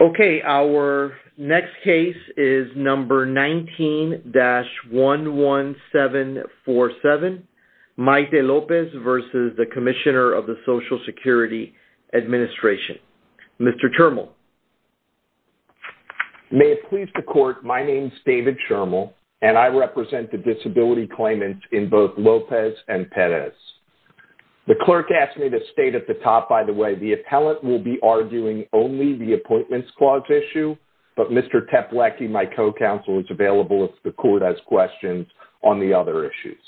Okay, our next case is number 19-11747, Maite Lopez v. The Commissioner of the Social Security Administration. Mr. Chermel. May it please the court, my name's David Chermel, and I represent the disability claimants in both Lopez and Perez. The clerk asked me to state at the top, by the way, the appellant will be arguing only the appointments clause issue, but Mr. Teplecki, my co-counsel, is available if the court has questions on the other issues.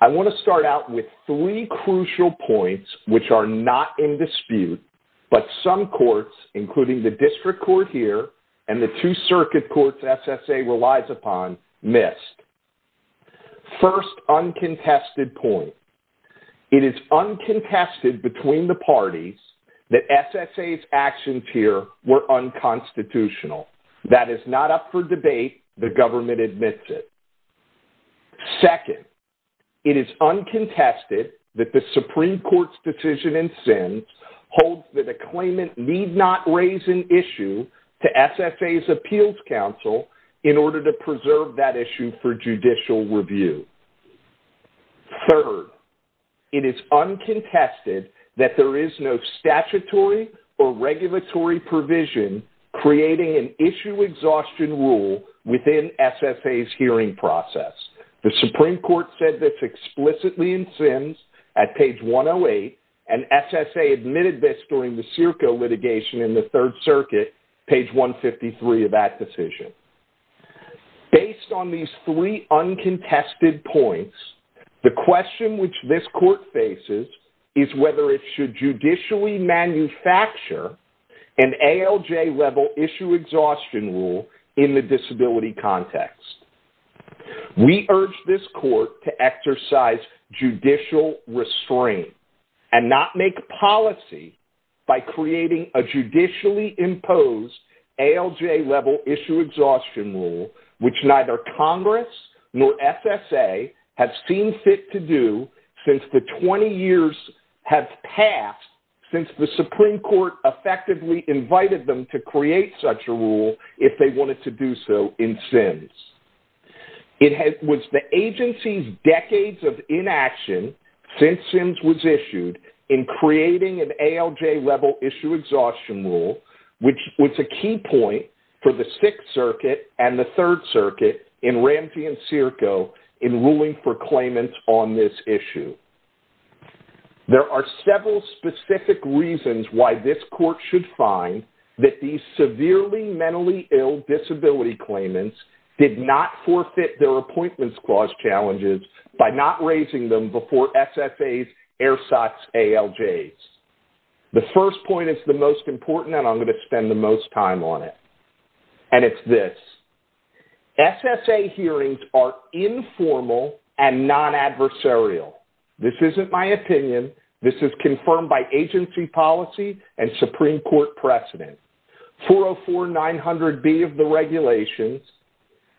I want to start out with three crucial points which are not in dispute, but some courts, including the district court here and the two circuit courts SSA relies upon, missed. First uncontested point. It is uncontested between the parties that SSA's actions here were unconstitutional. That is not up for debate. The government admits it. Second, it is uncontested that the Supreme Court's decision in SIN holds that a claimant need not raise an issue to SSA's appeals counsel in order to preserve that issue for judicial review. Third, it is uncontested that there is no statutory or regulatory provision creating an issue exhaustion rule within SSA's hearing process. The Supreme Court said this explicitly in SIN at page 108, and SSA admitted this during the Circo litigation in the third circuit, page 153 of that decision. Based on these three uncontested points, the question which this court faces is whether it should judicially manufacture an ALJ level issue exhaustion rule in the disability context. We urge this court to exercise judicial restraint and not make policy by creating a judicially imposed ALJ level issue exhaustion rule which neither Congress nor SSA have seen fit to do since the 20 years have passed since the Supreme Court effectively invited them to create such a rule if they wanted to do so in SINs. It was the agency's decades of inaction since SINs was issued in creating an ALJ level issue exhaustion rule which was a key point for the Sixth Circuit and the Third Circuit in Ramsey and Circo in ruling for claimants on this issue. There are several specific reasons why this court should find that these severely mentally ill disability claimants did not forfeit their appointments clause challenges by not raising them before SSA's ERSAT's ALJs. The first point is the most important and I'm gonna spend the most time on it. And it's this. SSA hearings are informal and non-adversarial. This isn't my opinion. This is confirmed by agency policy and Supreme Court precedent. 404-900B of the regulations,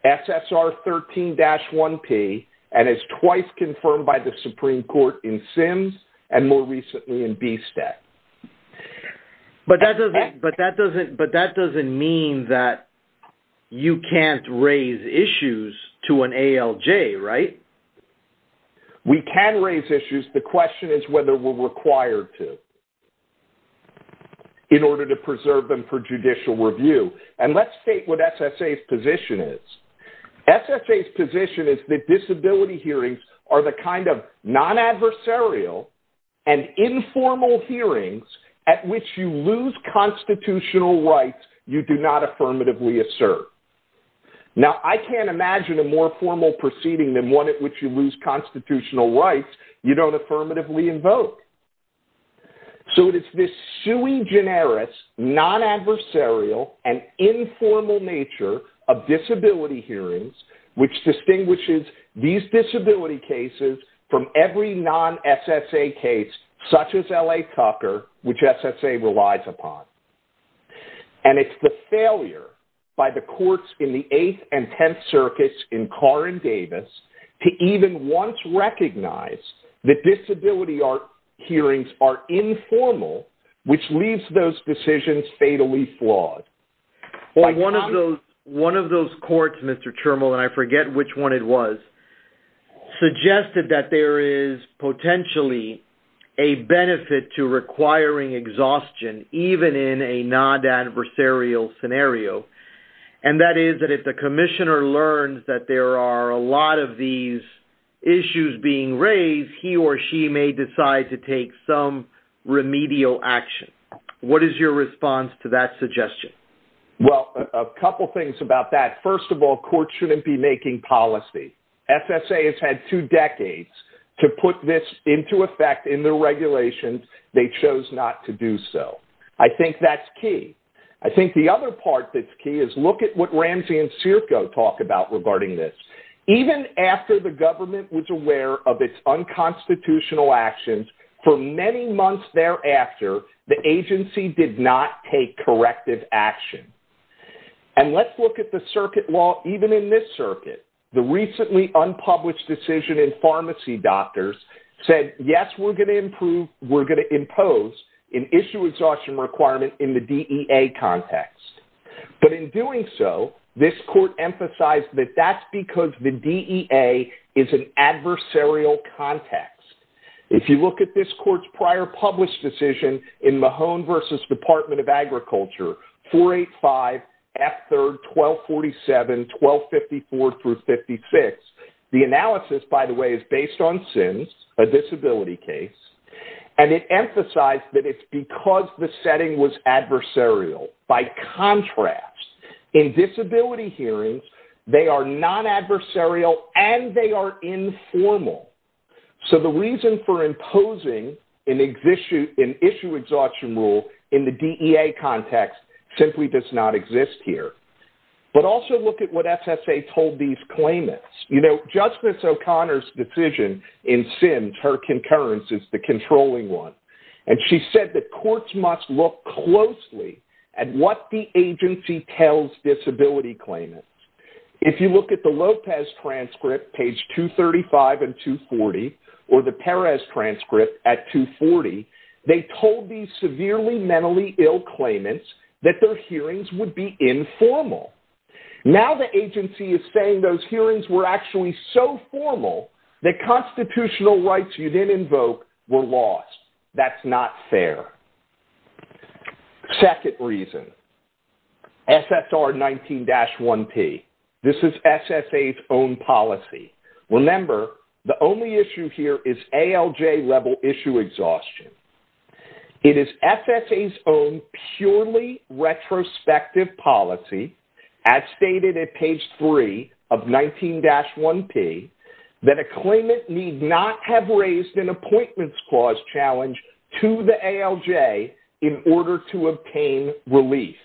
SSR 13-1P and is twice confirmed by the Supreme Court in SINs and more recently in BSTEC. But that doesn't mean that you can't raise issues to an ALJ, right? We can raise issues. The question is whether we're required to in order to preserve them for judicial review. And let's state what SSA's position is. SSA's position is that disability hearings are the kind of non-adversarial and informal hearings at which you lose constitutional rights you do not affirmatively assert. Now I can't imagine a more formal proceeding than one at which you lose constitutional rights you don't affirmatively invoke. So it's this sui generis, non-adversarial and informal nature of disability hearings which distinguishes these disability cases from every non-SSA case such as LA Tucker which SSA relies upon. And it's the failure by the courts in the eighth and 10th circuits in Carr and Davis to even once recognize that disability hearings are informal which leaves those decisions fatally flawed. Well, one of those courts, Mr. Termal and I forget which one it was suggested that there is potentially a benefit to requiring exhaustion even in a non-adversarial scenario. And that is that if the commissioner learns that there are a lot of these issues being raised he or she may decide to take some remedial action. What is your response to that suggestion? Well, a couple of things about that. First of all, courts shouldn't be making policy. SSA has had two decades to put this into effect in the regulations they chose not to do so. I think that's key. I think the other part that's key is look at what Ramsey and Circo talk about regarding this. Even after the government was aware of its unconstitutional actions for many months thereafter the agency did not take corrective action. And let's look at the circuit law even in this circuit the recently unpublished decision in pharmacy doctors said, yes, we're gonna improve, we're gonna impose an issue exhaustion requirement in the DEA context. But in doing so this court emphasized that that's because the DEA is an adversarial context. If you look at this court's prior published decision in Mahone versus Department of Agriculture 485 F3RD 1247 1254 through 56. The analysis by the way is based on SINs, a disability case and it emphasized that it's because the setting was adversarial. By contrast, in disability hearings they are non-adversarial and they are informal. So the reason for imposing an issue exhaustion rule in the DEA context simply does not exist here. But also look at what SSA told these claimants. Judge Ms. O'Connor's decision in SINs her concurrence is the controlling one. And she said that courts must look closely at what the agency tells disability claimants. If you look at the Lopez transcript page 235 and 240 or the Perez transcript at 240, they told these severely mentally ill claimants that their hearings would be informal. Now the agency is saying those hearings were actually so formal that constitutional rights you didn't invoke were lost. That's not fair. Second reason, SSR 19-1P. This is SSA's own policy. Remember, the only issue here is ALJ level issue exhaustion. It is SSA's own purely retrospective policy as stated at page three of 19-1P that a claimant need not have raised an appointments clause challenge to the ALJ in order to obtain release.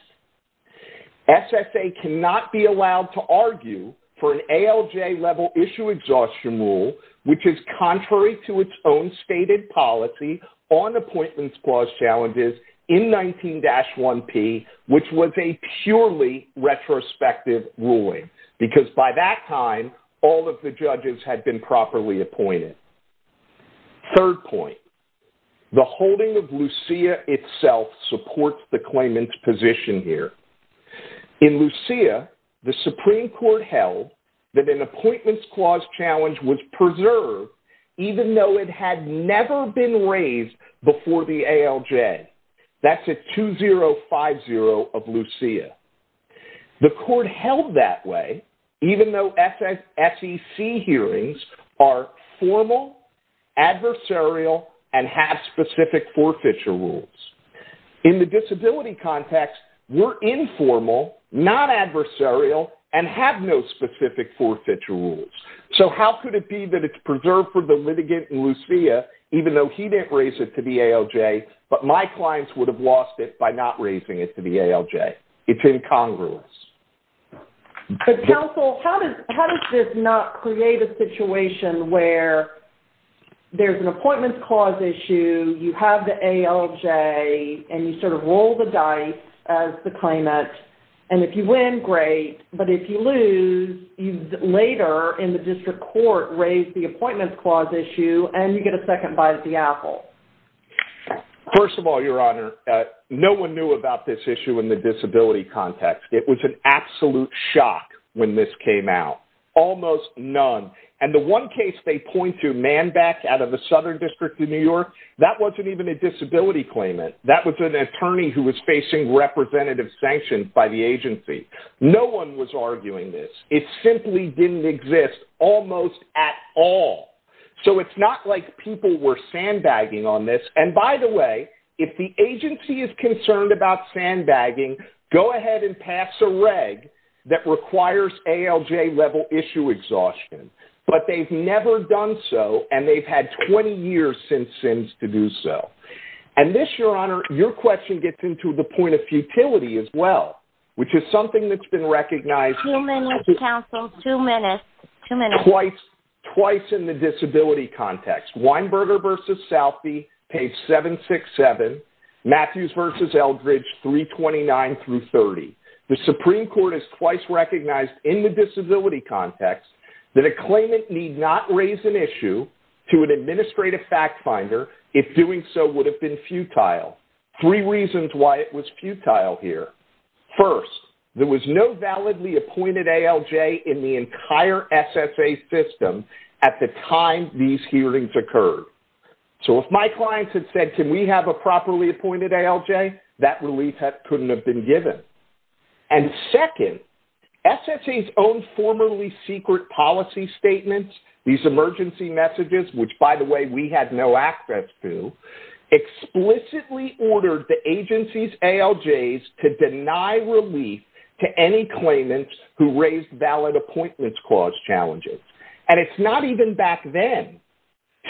SSA cannot be allowed to argue for an ALJ level issue exhaustion rule which is contrary to its own stated policy on appointments clause challenges in 19-1P which was a purely retrospective ruling. Because by that time all of the judges had been properly appointed. Third point, the holding of LUCEA itself supports the claimant's position here. In LUCEA, the Supreme Court held that an appointments clause challenge was preserved even though it had never been raised before the ALJ. That's at 2050 of LUCEA. The court held that way even though SEC hearings are formal, adversarial, and have specific forfeiture rules. In the disability context, we're informal, non-adversarial, and have no specific forfeiture rules. So how could it be that it's preserved for the litigant in LUCEA even though he didn't raise it to the ALJ but my clients would have lost it by not raising it to the ALJ? It's incongruous. But counsel, how does this not create a situation where there's an appointments clause issue, you have the ALJ, and you sort of roll the dice as the claimant, and if you win, great, but if you lose, you later in the district court raise the appointments clause issue and you get a second bite at the apple? First of all, Your Honor, no one knew about this issue in the disability context. It was an absolute shock when this came out, almost none. And the one case they point to, Manback out of the Southern District of New York, that wasn't even a disability claimant. That was an attorney who was facing representative sanctions by the agency. No one was arguing this. It simply didn't exist almost at all. So it's not like people were sandbagging on this. And by the way, if the agency is concerned about sandbagging, go ahead and pass a reg that requires ALJ level issue exhaustion. But they've never done so, and they've had 20 years since since to do so. And this, Your Honor, your question gets into the point of futility as well, which is something that's been recognized. Two minutes, counsel, two minutes, two minutes. Twice in the disability context. Weinberger versus Southby, page 767. Matthews versus Eldridge, 329 through 30. The Supreme Court has twice recognized in the disability context that a claimant need not raise an issue to an administrative fact finder if doing so would have been futile. Three reasons why it was futile here. First, there was no validly appointed ALJ in the entire SSA system at the time these hearings occurred. So if my clients had said, can we have a properly appointed ALJ, that relief couldn't have been given. And second, SSA's own formerly secret policy statements, these emergency messages, which by the way, we had no access to, explicitly ordered the agency's ALJs to deny relief to any claimants who raised valid appointments clause challenges. And it's not even back then.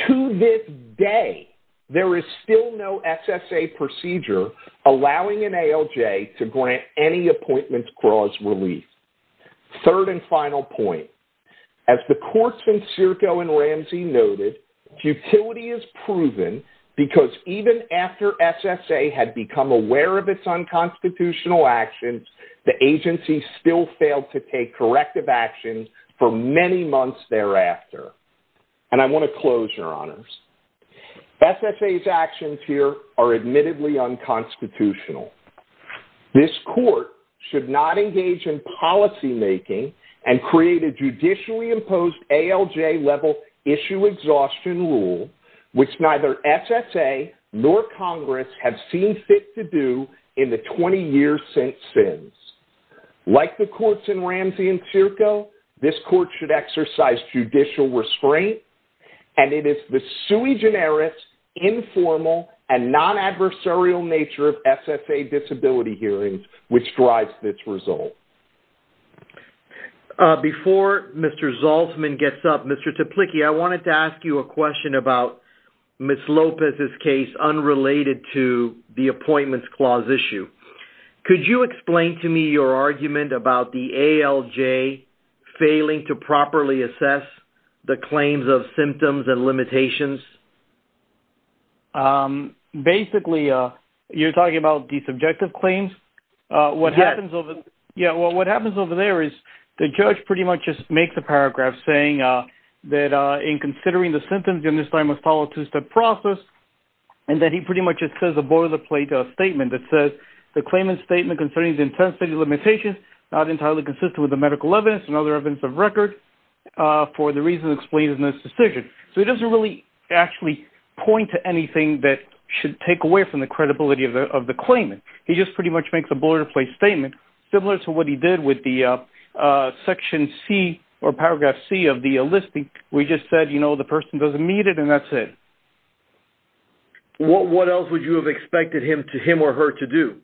To this day, there is still no SSA procedure allowing an ALJ to grant any appointments clause relief. Third and final point. As the courts in Circo and Ramsey noted, futility is proven because even after SSA had become aware of its unconstitutional actions, the agency still failed to take corrective action for many months thereafter. And I wanna close, Your Honors. SSA's actions here are admittedly unconstitutional. This court should not engage in policymaking and create a judicially imposed ALJ level issue exhaustion rule, which neither SSA nor Congress have seen fit to do in the 20 years since SINs. Like the courts in Ramsey and Circo, this court should exercise judicial restraint and it is the sui generis, informal, and non-adversarial nature of SSA disability hearings which drives this result. Before Mr. Zaltzman gets up, Mr. Toplicky, I wanted to ask you a question about Ms. Lopez's case unrelated to the appointments clause issue. Could you explain to me your argument about the ALJ failing to properly assess the claims of symptoms and limitations? Basically, you're talking about the subjective claims? Yes. Yeah, well, what happens over there is the judge pretty much just makes a paragraph saying that in considering the symptoms during this time must follow a two-step process and that he pretty much just says a board of the plate statement that says the claimant's statement concerning the intensity limitations not entirely consistent with the medical evidence and other evidence of record for the reasons explained in this decision. So he doesn't really actually point to anything that should take away from the credibility of the claimant. He just pretty much makes a board of the plate statement similar to what he did with the section C or paragraph C of the listing where he just said the person doesn't need it and that's it. What else would you have expected him or her to do?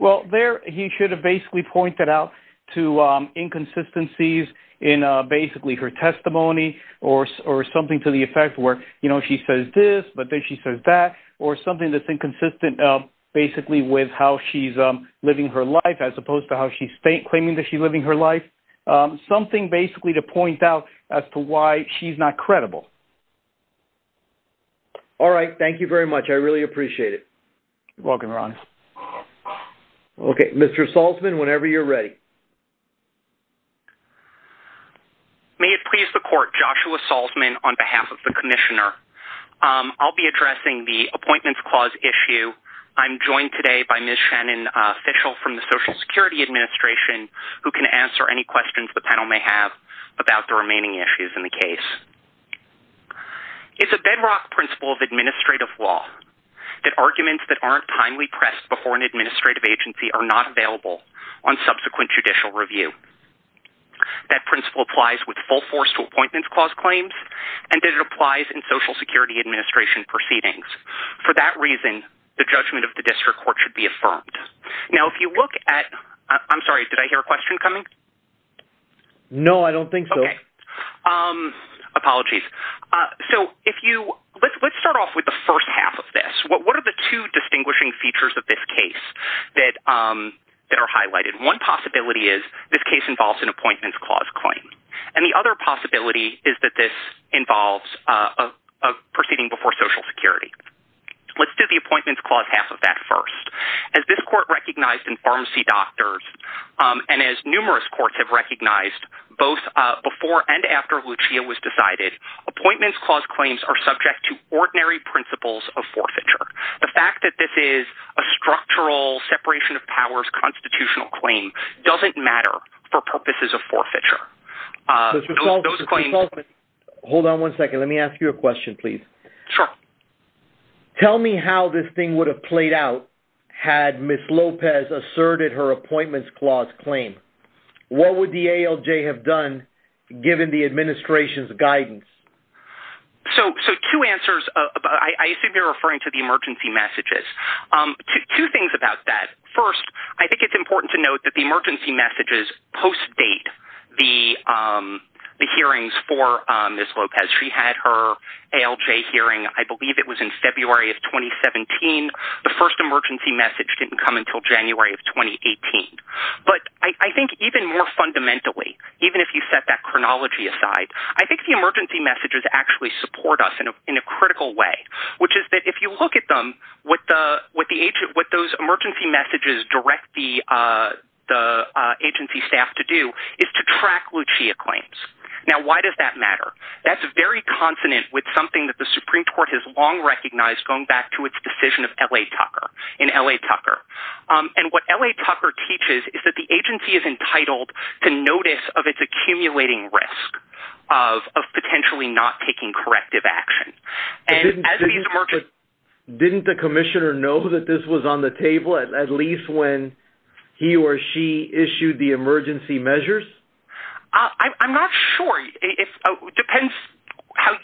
Well, there he should have basically pointed out to inconsistencies in basically her testimony or something to the effect where she says this but then she says that or something that's inconsistent basically with how she's living her life as opposed to how she's claiming that she's living her life. Something basically to point out as to why she's not credible. All right, thank you very much. I really appreciate it. You're welcome, Ron. Okay, Mr. Salzman, whenever you're ready. May it please the court, Joshua Salzman on behalf of the commissioner. I'll be addressing the appointments clause issue. I'm joined today by Ms. Shannon, official from the Social Security Administration who can answer any questions the panel may have about the remaining issues in the case. It's a bedrock principle of administrative law that arguments that aren't timely pressed before an administrative agency are not available on subsequent judicial review. That principle applies with full force to appointments clause claims and that it applies in Social Security Administration proceedings. For that reason, the judgment of the district court should be affirmed. Now, if you look at, I'm sorry, did I hear a question coming? No, I don't think so. Okay, apologies. So if you, let's start off with the first half of this. What are the two distinguishing features of this case that are highlighted? One possibility is this case involves an appointments clause claim. And the other possibility is that this involves proceeding before Social Security. Let's do the appointments clause half of that first. As this court recognized in Pharmacy Doctors and as numerous courts have recognized both before and after Lucia was decided, appointments clause claims are subject to ordinary principles of forfeiture. The fact that this is a structural separation of powers constitutional claim doesn't matter for purposes of forfeiture. Hold on one second. Let me ask you a question, please. Sure. Tell me how this thing would have played out had Ms. Lopez asserted her appointments clause claim. What would the ALJ have done given the administration's guidance? So two answers. I assume you're referring to the emergency messages. Two things about that. First, I think it's important to note that the emergency messages post-date the hearings for Ms. Lopez. She had her ALJ hearing, I believe it was in February of 2017. The first emergency message didn't come until January of 2018. But I think even more fundamentally, even if you set that chronology aside, I think the emergency messages actually support us in a critical way, which is that if you look at them, what those emergency messages direct the agency staff to do is to track Lucia claims. Now, why does that matter? That's very consonant with something that the Supreme Court has long recognized going back to its decision of LA Tucker in LA Tucker. And what LA Tucker teaches is that the agency is entitled to notice of its accumulating risk of potentially not taking corrective action. And as these emergency- Didn't the commissioner know that this was on the table at least when he or she issued the emergency measures? I'm not sure. It depends how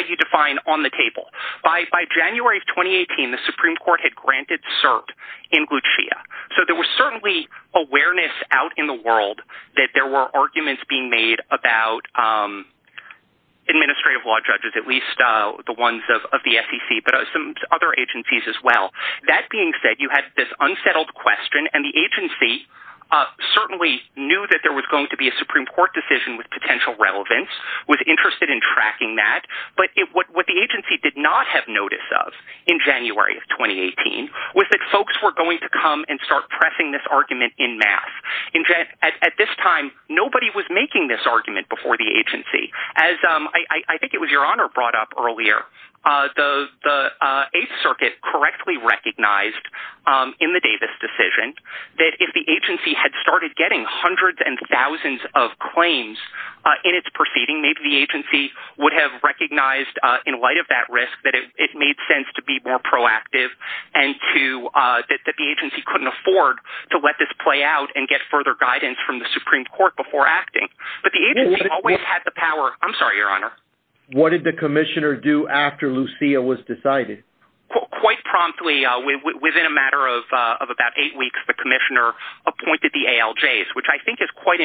you define on the table. By January of 2018, the Supreme Court had granted cert that the agency was going to be in the Supreme Court in Lucia. So there was certainly awareness out in the world that there were arguments being made about administrative law judges, at least the ones of the SEC, but some other agencies as well. That being said, you had this unsettled question and the agency certainly knew that there was going to be a Supreme Court decision with potential relevance, was interested in tracking that. But what the agency did not have notice of in January of 2018 was that folks were going to come and start pressing this argument in mass. At this time, nobody was making this argument before the agency. As I think it was your honor brought up earlier, the Eighth Circuit correctly recognized in the Davis decision that if the agency had started getting hundreds and thousands of claims in its proceeding, maybe the agency would have recognized in light of that risk, that it made sense to be more proactive and that the agency couldn't afford to let this play out and get further guidance from the Supreme Court before acting. But the agency always had the power. I'm sorry, your honor. What did the commissioner do after Lucia was decided? Quite promptly, within a matter of about eight weeks, the commissioner appointed the ALJs, which I think is quite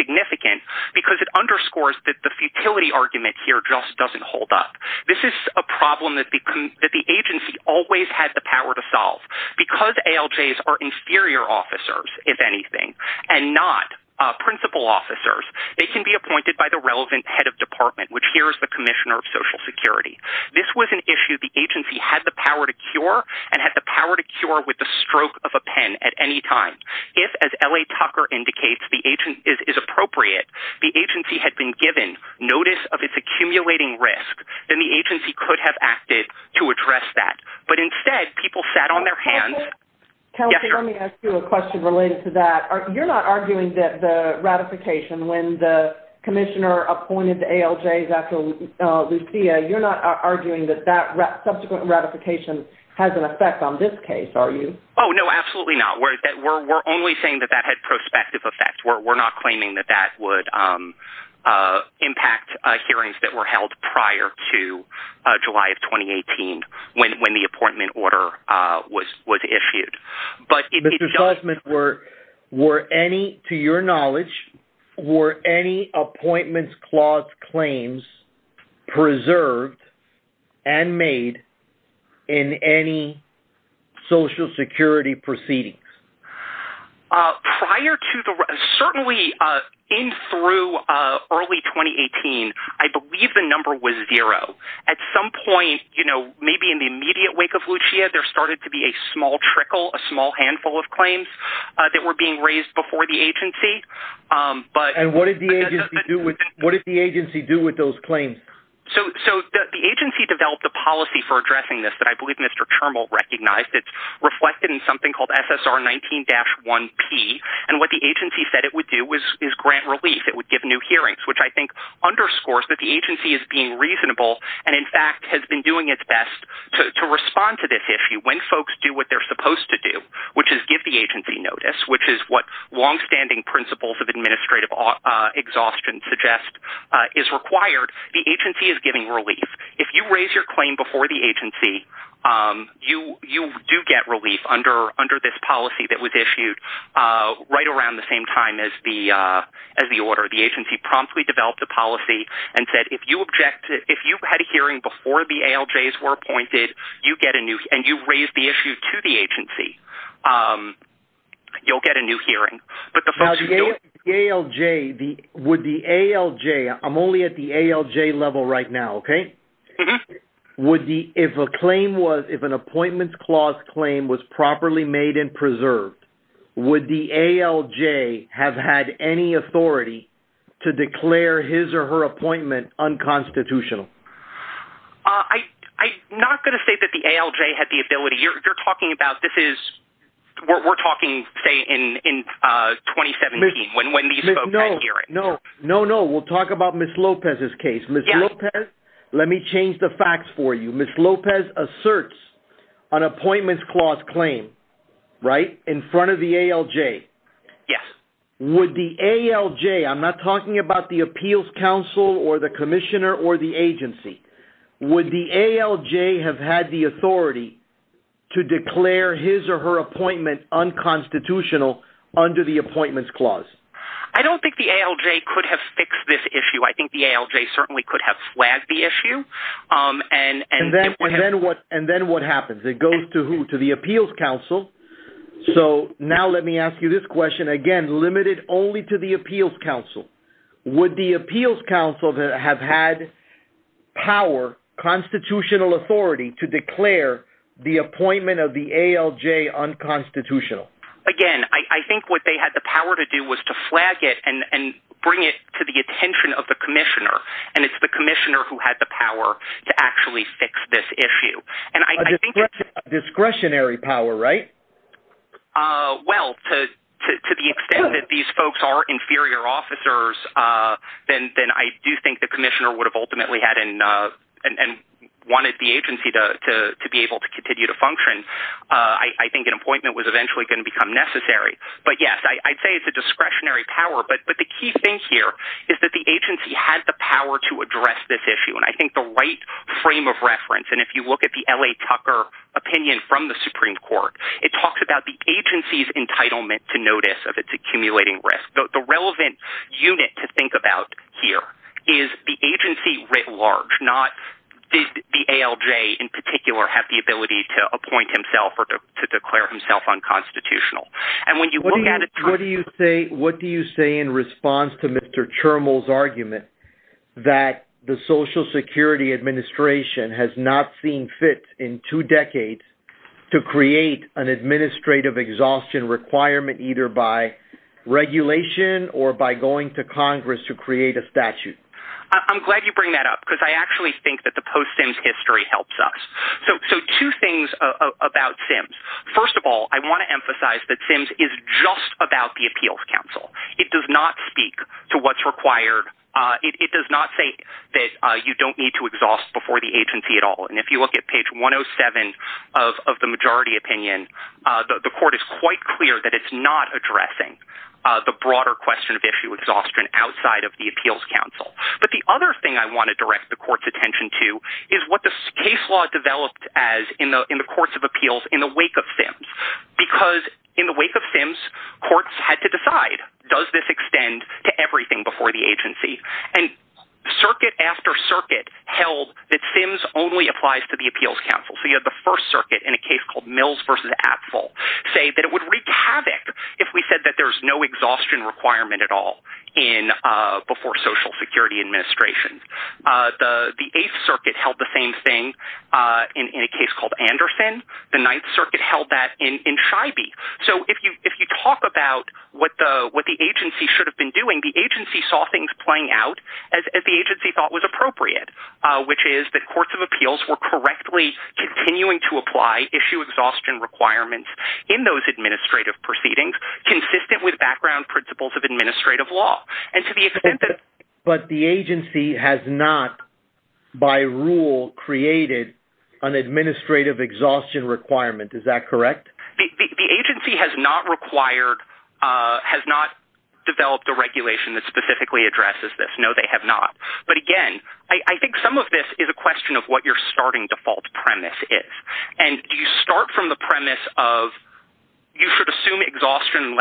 significant because it underscores that the futility argument here just doesn't hold up. This is a problem that the agency always had the power to solve. Because ALJs are inferior officers, if anything, and not principal officers, they can be appointed by the relevant head of department, which here is the commissioner of social security. This was an issue the agency had the power to cure and had the power to cure with the stroke of a pen at any time. If, as L.A. Tucker indicates, the agent is appropriate, the agency had been given notice of its accumulating risk, then the agency could have acted to address that. But instead, people sat on their hands. Kelly, let me ask you a question related to that. You're not arguing that the ratification, when the commissioner appointed the ALJs after Lucia, you're not arguing that that subsequent ratification has an effect on this case, are you? Oh, no, absolutely not. We're only saying that that had prospective effect. We're not claiming that that would impact hearings that were held prior to July of 2018 when the appointment order was issued. But it does- Mr. Sussman, were any, to your knowledge, were any appointments clause claims preserved and made in any social security proceedings? Prior to the, certainly in through early 2018, I believe the number was zero. At some point, maybe in the immediate wake of Lucia, there started to be a small trickle, a small handful of claims that were being raised before the agency, but- And what did the agency do with those claims? So the agency developed a policy for addressing this that I believe Mr. Termal recognized. It's reflected in something called SSR 19-1P. And what the agency said it would do is grant relief. It would give new hearings, which I think underscores that the agency is being reasonable, and in fact, has been doing its best to respond to this issue when folks do what they're supposed to do, which is give the agency notice, which is what longstanding principles of administrative exhaustion suggest is required. The agency is giving relief. If you raise your claim before the agency, you do get relief under this policy that was issued right around the same time as the order. The agency promptly developed a policy and said, if you had a hearing before the ALJs were appointed, you get a new, and you raise the issue to the agency, you'll get a new hearing. But the folks who don't- Now, the ALJ, would the ALJ, I'm only at the ALJ level right now, okay? Would the, if a claim was, if an appointments clause claim was properly made and preserved, would the ALJ have had any authority to declare his or her appointment unconstitutional? I'm not gonna say that the ALJ had the ability. You're talking about, this is, we're talking, say, in 2017, when these folks had hearings. No, no, no, we'll talk about Ms. Lopez's case. Ms. Lopez, let me change the facts for you. Ms. Lopez asserts an appointments clause claim, right, in front of the ALJ. Yes. Would the ALJ, I'm not talking about the appeals council or the commissioner or the agency, would the ALJ have had the authority to declare his or her appointment unconstitutional under the appointments clause? I don't think the ALJ could have fixed this issue. I think the ALJ certainly could have flagged the issue, and- And then what happens? It goes to who? To the appeals council. So now let me ask you this question. Again, limited only to the appeals council. Would the appeals council have had power, constitutional authority, to declare the appointment of the ALJ unconstitutional? Again, I think what they had the power to do was to flag it and bring it to the attention of the commissioner. And it's the commissioner who had the power to actually fix this issue. And I think- A discretionary power, right? Well, to the extent that these folks are inferior officers, then I do think the commissioner would have ultimately had and wanted the agency to be able to continue to function. I think an appointment was eventually going to become necessary. But yes, I'd say it's a discretionary power, but the key thing here is that the agency had the power to address this issue. And I think the right frame of reference, and if you look at the L.A. Tucker opinion from the Supreme Court, it talks about the agency's entitlement to notice of its accumulating risk. The relevant unit to think about here is the agency writ large, not did the ALJ in particular have the ability to appoint himself or to declare himself unconstitutional. And when you look at it- What do you say in response to Mr. Chermel's argument that the Social Security Administration has not seen fit in two decades to create an administrative exhaustion requirement either by regulation or by going to Congress to create a statute? I'm glad you bring that up, because I actually think that the post-SIMS history helps us. So two things about SIMS. First of all, I want to emphasize that SIMS is just about the Appeals Council. It does not speak to what's required. It does not say that you don't need to exhaust before the agency at all. And if you look at page 107 of the majority opinion, the court is quite clear that it's not addressing the broader question of issue exhaustion outside of the Appeals Council. But the other thing I want to direct the court's attention to is what this case law developed as in the courts of appeals in the wake of SIMS. Because in the wake of SIMS, courts had to decide, does this extend to everything before the agency? And circuit after circuit held that SIMS only applies to the Appeals Council. So you have the First Circuit in a case called Mills v. Axel say that it would wreak havoc if we said that there's no exhaustion requirement at all in before Social Security Administration. The Eighth Circuit held the same thing in a case called Anderson. The Ninth Circuit held that in Shiby. So if you talk about what the agency should have been doing, the agency saw things playing out as the agency thought was appropriate, which is that courts of appeals were correctly continuing to apply issue exhaustion requirements in those administrative proceedings, consistent with background principles of administrative law. And to the extent that- But the agency has not, by rule, created an administrative exhaustion requirement. Is that correct? The agency has not required, has not developed a regulation that specifically addresses this. No, they have not. But again, I think some of this is a question of what your starting default premise is. And do you start from the premise of you should assume exhaustion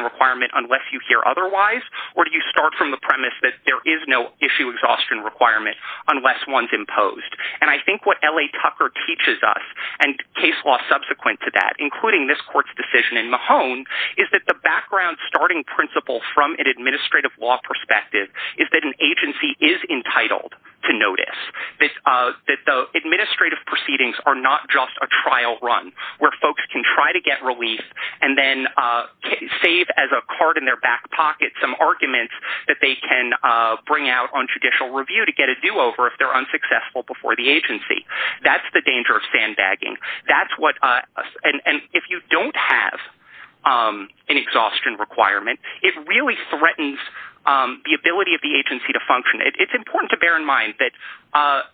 requirement unless you hear otherwise? Or do you start from the premise that there is no issue exhaustion requirement unless one's imposed? And I think what L.A. Tucker teaches us, and case law subsequent to that, including this court's decision in Mahone, is that the background starting principle from an administrative law perspective is that an agency is entitled to notice that the administrative proceedings are not just a trial run, where folks can try to get relief and then save as a card in their back pocket some arguments that they can bring out on judicial review to get a do-over if they're unsuccessful before the agency. That's the danger of sandbagging. That's what, and if you don't have an exhaustion requirement, it really threatens the ability of the agency to function. It's important to bear in mind that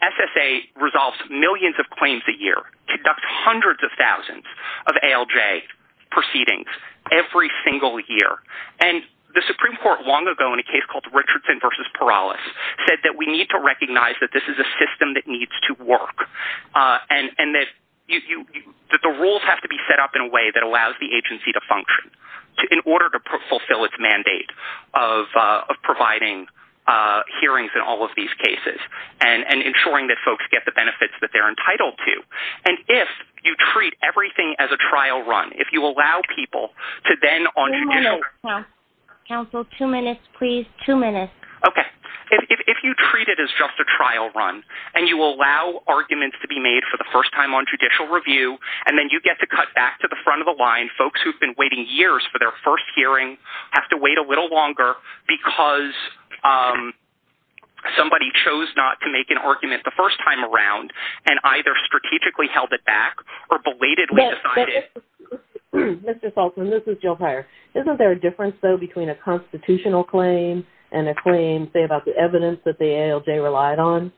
SSA resolves millions of claims a year, conducts hundreds of thousands of ALJ proceedings every single year. And the Supreme Court long ago, in a case called Richardson v. Perales, said that we need to recognize that this is a system that needs to work, and that the rules have to be set up in a way that allows the agency to function in order to fulfill its mandate of providing hearings in all of these cases, and ensuring that folks get the benefits that they're entitled to. And if you treat everything as a trial run, if you allow people to then on judicial- Counsel, two minutes, please, two minutes. Okay. If you treat it as just a trial run, and you allow arguments to be made for the first time on judicial review, and then you get to cut back to the front of the line, folks who've been waiting years for their first hearing have to wait a little longer because somebody chose not to make an argument the first time around, and either strategically held it back or belatedly decided- Mr. Saltzman, this is Jill Pyre. Isn't there a difference, though, between a constitutional claim and a claim, say, about the evidence that the ALJ relied on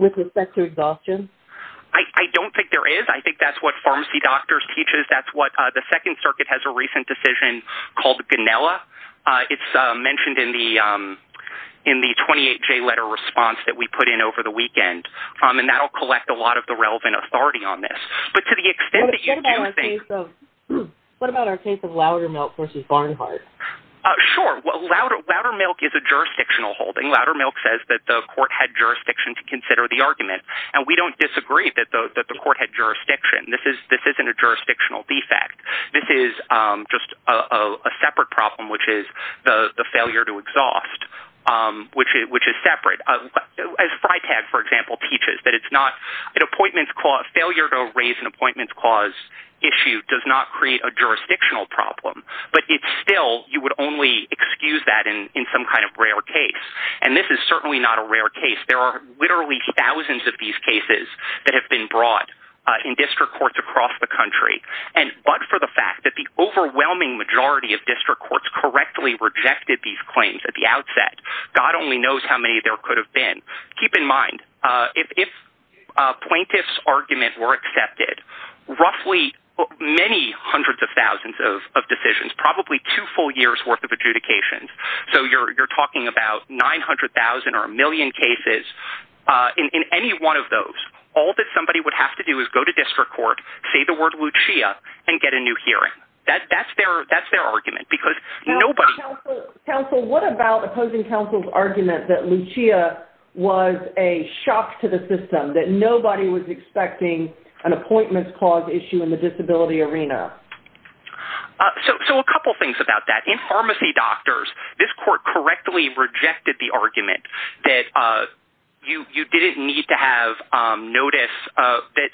with respect to exhaustion? I don't think there is. I think that's what Pharmacy Doctors teaches. That's what the Second Circuit has a recent decision called the GANELLA. It's mentioned in the 28-J letter response that we put in over the weekend, and that'll collect a lot of the relevant authority on this. But to the extent that you do think- What about our case of Loudermilk v. Barnhart? Sure. Well, Loudermilk is a jurisdictional holding. Loudermilk says that the court had jurisdiction to consider the argument, and we don't disagree that the court had jurisdiction. This isn't a jurisdictional defect. This is just a separate problem, which is the failure to exhaust, which is separate. As FriTag, for example, teaches, that it's not an appointments clause. Failure to raise an appointments clause issue does not create a jurisdictional problem. But it's still, you would only excuse that in some kind of rare case. And this is certainly not a rare case. There are literally thousands of these cases that have been brought in district courts across the country. And but for the fact that the overwhelming majority of district courts correctly rejected these claims at the outset, God only knows how many there could have been. Keep in mind, if a plaintiff's argument were accepted, roughly many hundreds of thousands of decisions, probably two full years worth of adjudications. So you're talking about 900,000 or a million cases in any one of those. All that somebody would have to do is go to district court, say the word Lucia, and get a new hearing. That's their argument, because nobody- Counsel, what about opposing counsel's argument that Lucia was a shock to the system, that nobody was expecting an appointments clause issue in the disability arena? So a couple things about that. In Pharmacy Doctors, this court correctly rejected the argument that you didn't need to have notice that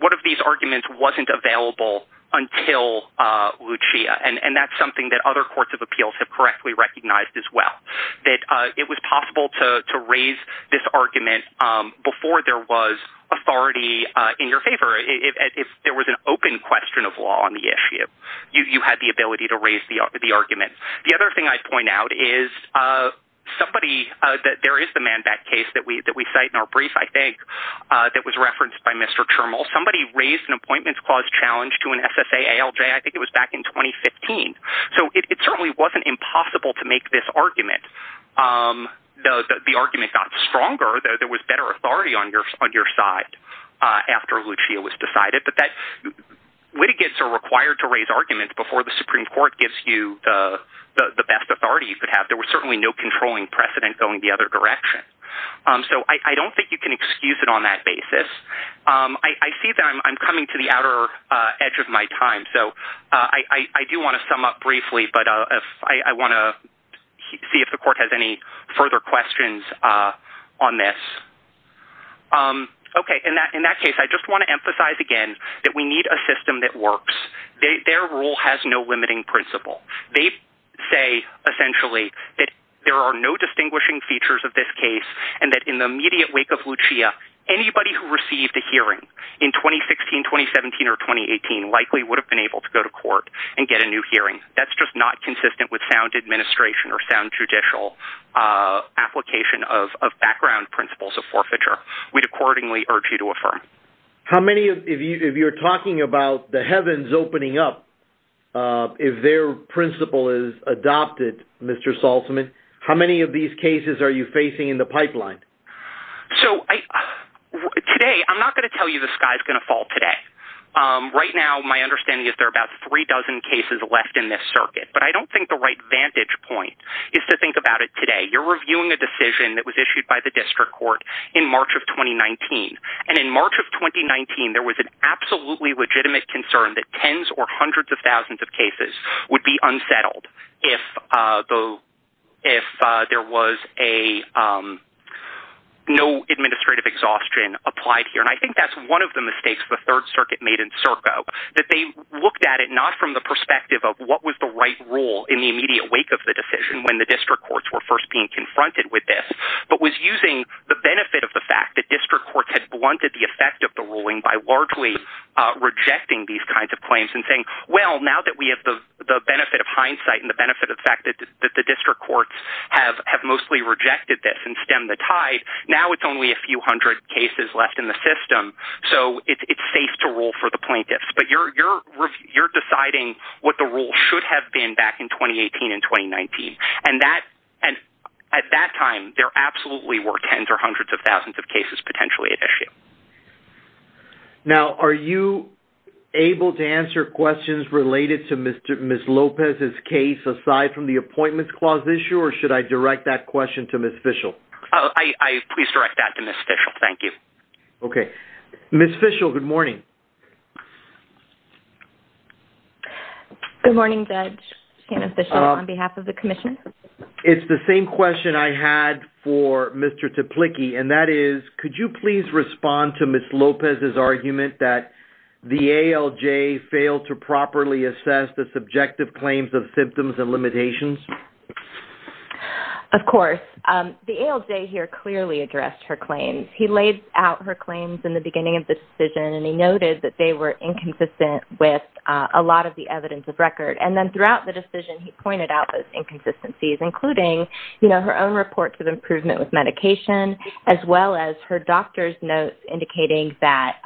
one of these arguments wasn't available until Lucia. And that's something that other courts of appeals have correctly recognized as well, that it was possible to raise this argument before there was authority in your favor. If there was an open question of law on the issue, you had the ability to raise the argument. The other thing I'd point out is somebody, there is the Manback case that we cite in our brief, I think, that was referenced by Mr. Termal. Somebody raised an appointments clause challenge to an SSA ALJ. I think it was back in 2015. So it certainly wasn't impossible to make this argument. Though the argument got stronger, there was better authority on your side after Lucia was decided. But litigants are required to raise arguments before the Supreme Court gives you the best authority you could have. There was certainly no controlling precedent going the other direction. So I don't think you can excuse it on that basis. I see that I'm coming to the outer edge of my time. So I do wanna sum up briefly, but I wanna see if the court has any further questions on this. Okay, in that case, I just wanna emphasize again that we need a system that works. Their rule has no limiting principle. They say, essentially, that there are no distinguishing features of this case and that in the immediate wake of Lucia, anybody who received a hearing in 2016, 2017, or 2018 likely would have been able to go to court and get a new hearing. That's just not consistent with sound administration or sound judicial application of background principles of forfeiture. We'd accordingly urge you to affirm. How many, if you're talking about the heavens opening up, if their principle is adopted, Mr. Saltzman, how many of these cases are you facing in the pipeline? So today, I'm not gonna tell you the sky's gonna fall today. Right now, my understanding is there are about three dozen cases left in this circuit, but I don't think the right vantage point is to think about it today. You're reviewing a decision that was issued by the district court in March of 2019, and in March of 2019, there was an absolutely legitimate concern that tens or hundreds of thousands of cases would be unsettled if there was no administrative exhaustion applied here, and I think that's one of the mistakes the Third Circuit made in Serco, that they looked at it not from the perspective of what was the right rule in the immediate wake of the decision when the district courts were first being confronted with this, but was using the benefit of the fact that district courts had blunted the effect of the ruling by largely rejecting these kinds of claims and saying, well, now that we have the benefit of hindsight and the benefit of the fact that the district courts have mostly rejected this and stemmed the tide, now it's only a few hundred cases left in the system, so it's safe to rule for the plaintiffs, but you're deciding what the rule should have been back in 2018 and 2019, and at that time, there absolutely were tens or hundreds of thousands of cases potentially at issue. Now, are you able to answer questions related to Ms. Lopez's case aside from the Appointments Clause issue, or should I direct that question to Ms. Fischel? Please direct that to Ms. Fischel, thank you. Okay, Ms. Fischel, good morning. Good morning, Judge and Official, on behalf of the Commission. It's the same question I had for Mr. Teplicky, and that is, could you please respond to Ms. Lopez's argument that the ALJ failed to properly assess the subjective claims of symptoms and limitations? Of course, the ALJ here clearly addressed her claims. He laid out her claims in the beginning of the decision, and he noted that they were inconsistent with a lot of the evidence of record. And then throughout the decision, he pointed out those inconsistencies, including her own report to the improvement with medication, as well as her doctor's notes indicating that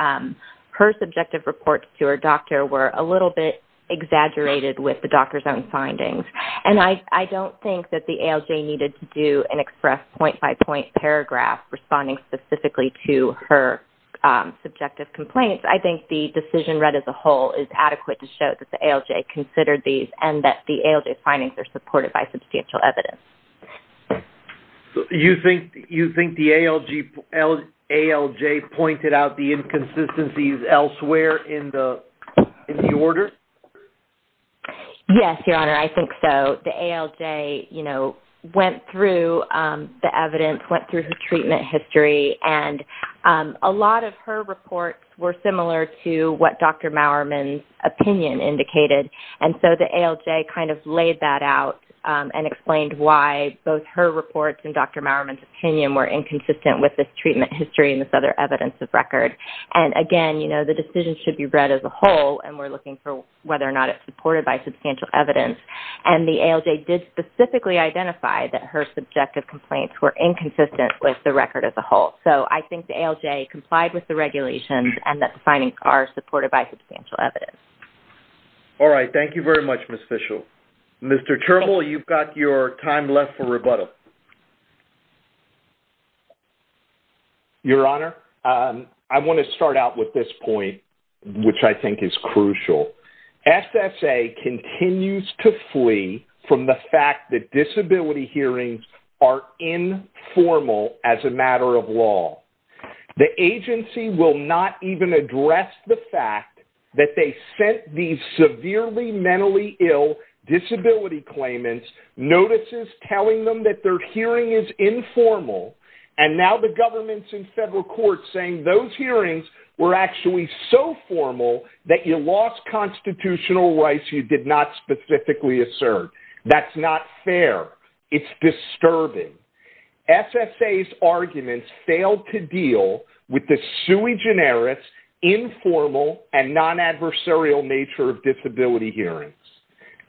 her subjective reports to her doctor were a little bit exaggerated with the doctor's own findings. And I don't think that the ALJ needed to do an express point-by-point paragraph responding specifically to her subjective complaints. I think the decision read as a whole is adequate to show that the ALJ considered these, and that the ALJ findings are supported by substantial evidence. You think the ALJ pointed out the inconsistencies elsewhere in the order? Yes, Your Honor, I think so. The ALJ went through the evidence, went through her treatment history, and a lot of her reports were similar to what Dr. Mowerman's opinion indicated. And so the ALJ kind of laid that out and explained why both her reports and Dr. Mowerman's opinion were inconsistent with this treatment history and this other evidence of record. And again, the decision should be read as a whole, and we're looking for whether or not it's supported by substantial evidence. And the ALJ did specifically identify that her subjective complaints were inconsistent with the record as a whole. So I think the ALJ complied with the regulations and that the findings are supported by substantial evidence. All right, thank you very much, Ms. Fischel. Mr. Turbel, you've got your time left for rebuttal. Your Honor, I wanna start out with this point, which I think is crucial. SSA continues to flee from the fact that disability hearings are informal as a matter of law. The agency will not even address the fact that they sent these severely mentally ill disability claimants notices telling them that their hearing is informal. And now the government's in federal court saying those hearings were actually so formal that you lost constitutional rights you did not specifically assert. That's not fair, it's disturbing. SSA's arguments failed to deal with the sui generis, informal and non-adversarial nature of disability hearings.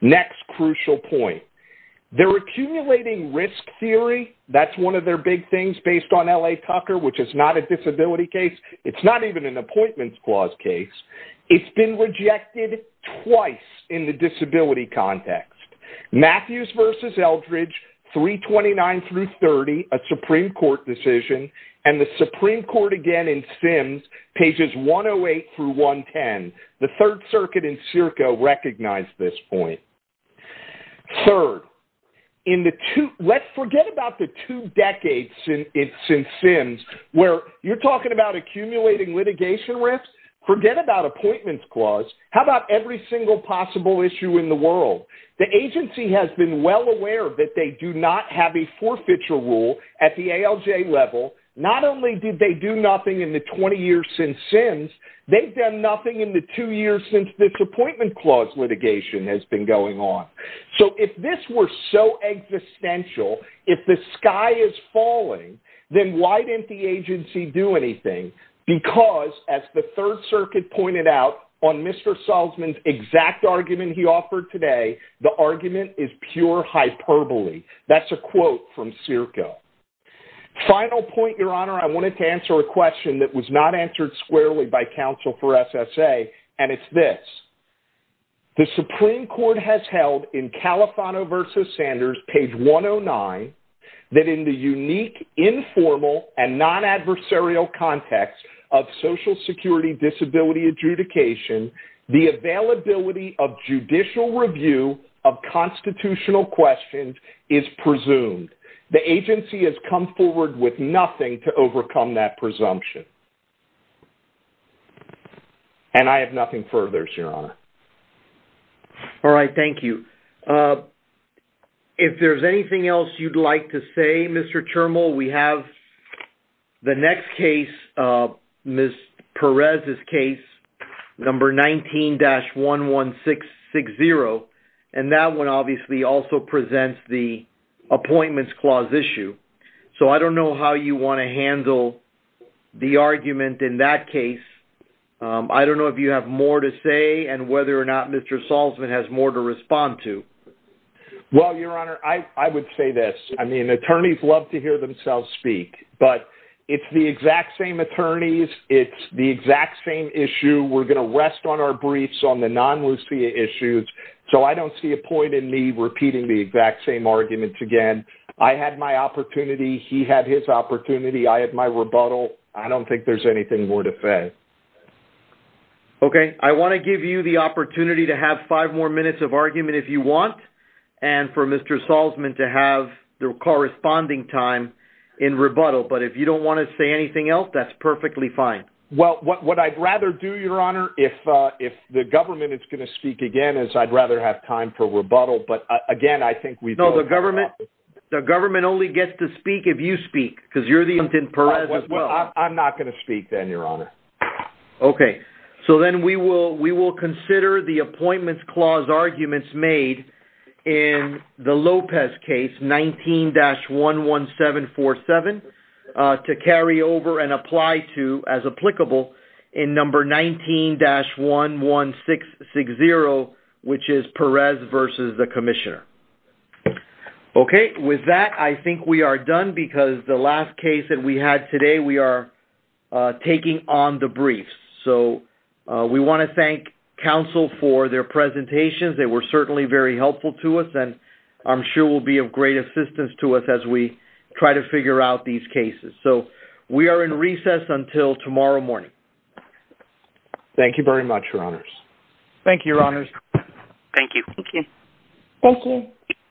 Next crucial point, they're accumulating risk theory. That's one of their big things based on LA Tucker, which is not a disability case. It's not even an appointments clause case. It's been rejected twice in the disability context. Matthews versus Eldridge 329 through 30, a Supreme Court decision, and the Supreme Court again in Sims pages 108 through 110. The third circuit in Circo recognized this point. Third, let's forget about the two decades since Sims where you're talking about accumulating litigation risks, forget about appointments clause, how about every single possible issue in the world? The agency has been well aware that they do not have a forfeiture rule at the ALJ level. Not only did they do nothing in the 20 years since Sims, they've done nothing in the two years since this appointment clause litigation has been going on. So if this were so existential, if the sky is falling, then why didn't the agency do anything? Because as the third circuit pointed out on Mr. Salzman's exact argument he offered today, the argument is pure hyperbole. That's a quote from Circo. Final point, your honor, I wanted to answer a question that was not answered squarely by counsel for SSA. And it's this, the Supreme Court has held in Califano versus Sanders page 109, that in the unique informal and non-adversarial context of social security disability adjudication, the availability of judicial review of constitutional questions is presumed. The agency has come forward with nothing to overcome that presumption. And I have nothing further, your honor. All right, thank you. If there's anything else you'd like to say, Mr. Termal, we have the next case, Ms. Perez's case, number 19-11660. And that one obviously also presents the appointments clause issue. So I don't know how you wanna handle the argument in that case. I don't know if you have more to say and whether or not Mr. Salzman has more to respond to. Well, your honor, I would say this. I mean, attorneys love to hear themselves speak, but it's the exact same attorneys. It's the exact same issue. We're gonna rest on our briefs on the non-Lucea issues. So I don't see a point in me repeating the exact same arguments again. I had my opportunity. He had his opportunity. I had my rebuttal. I don't think there's anything more to say. Okay, I wanna give you the opportunity to have five more minutes of argument if you want, and for Mr. Salzman to have the corresponding time in rebuttal. But if you don't wanna say anything else, that's perfectly fine. Well, what I'd rather do, your honor, if the government is gonna speak again is I'd rather have time for rebuttal. But again, I think we've- No, the government only gets to speak if you speak because you're the agent in Perez as well. I'm not gonna speak then, your honor. Okay, so then we will consider the appointments clause arguments made in the Lopez case, 19-11747 to carry over and apply to as applicable in number 19-11660, which is Perez versus the commissioner. Okay, with that, I think we are done because the last case that we had today, we are taking on the briefs. So we wanna thank counsel for their presentations. They were certainly very helpful to us, and I'm sure will be of great assistance to us as we try to figure out these cases. So we are in recess until tomorrow morning. Thank you very much, your honors. Thank you, your honors. Thank you. Thank you. Thank you.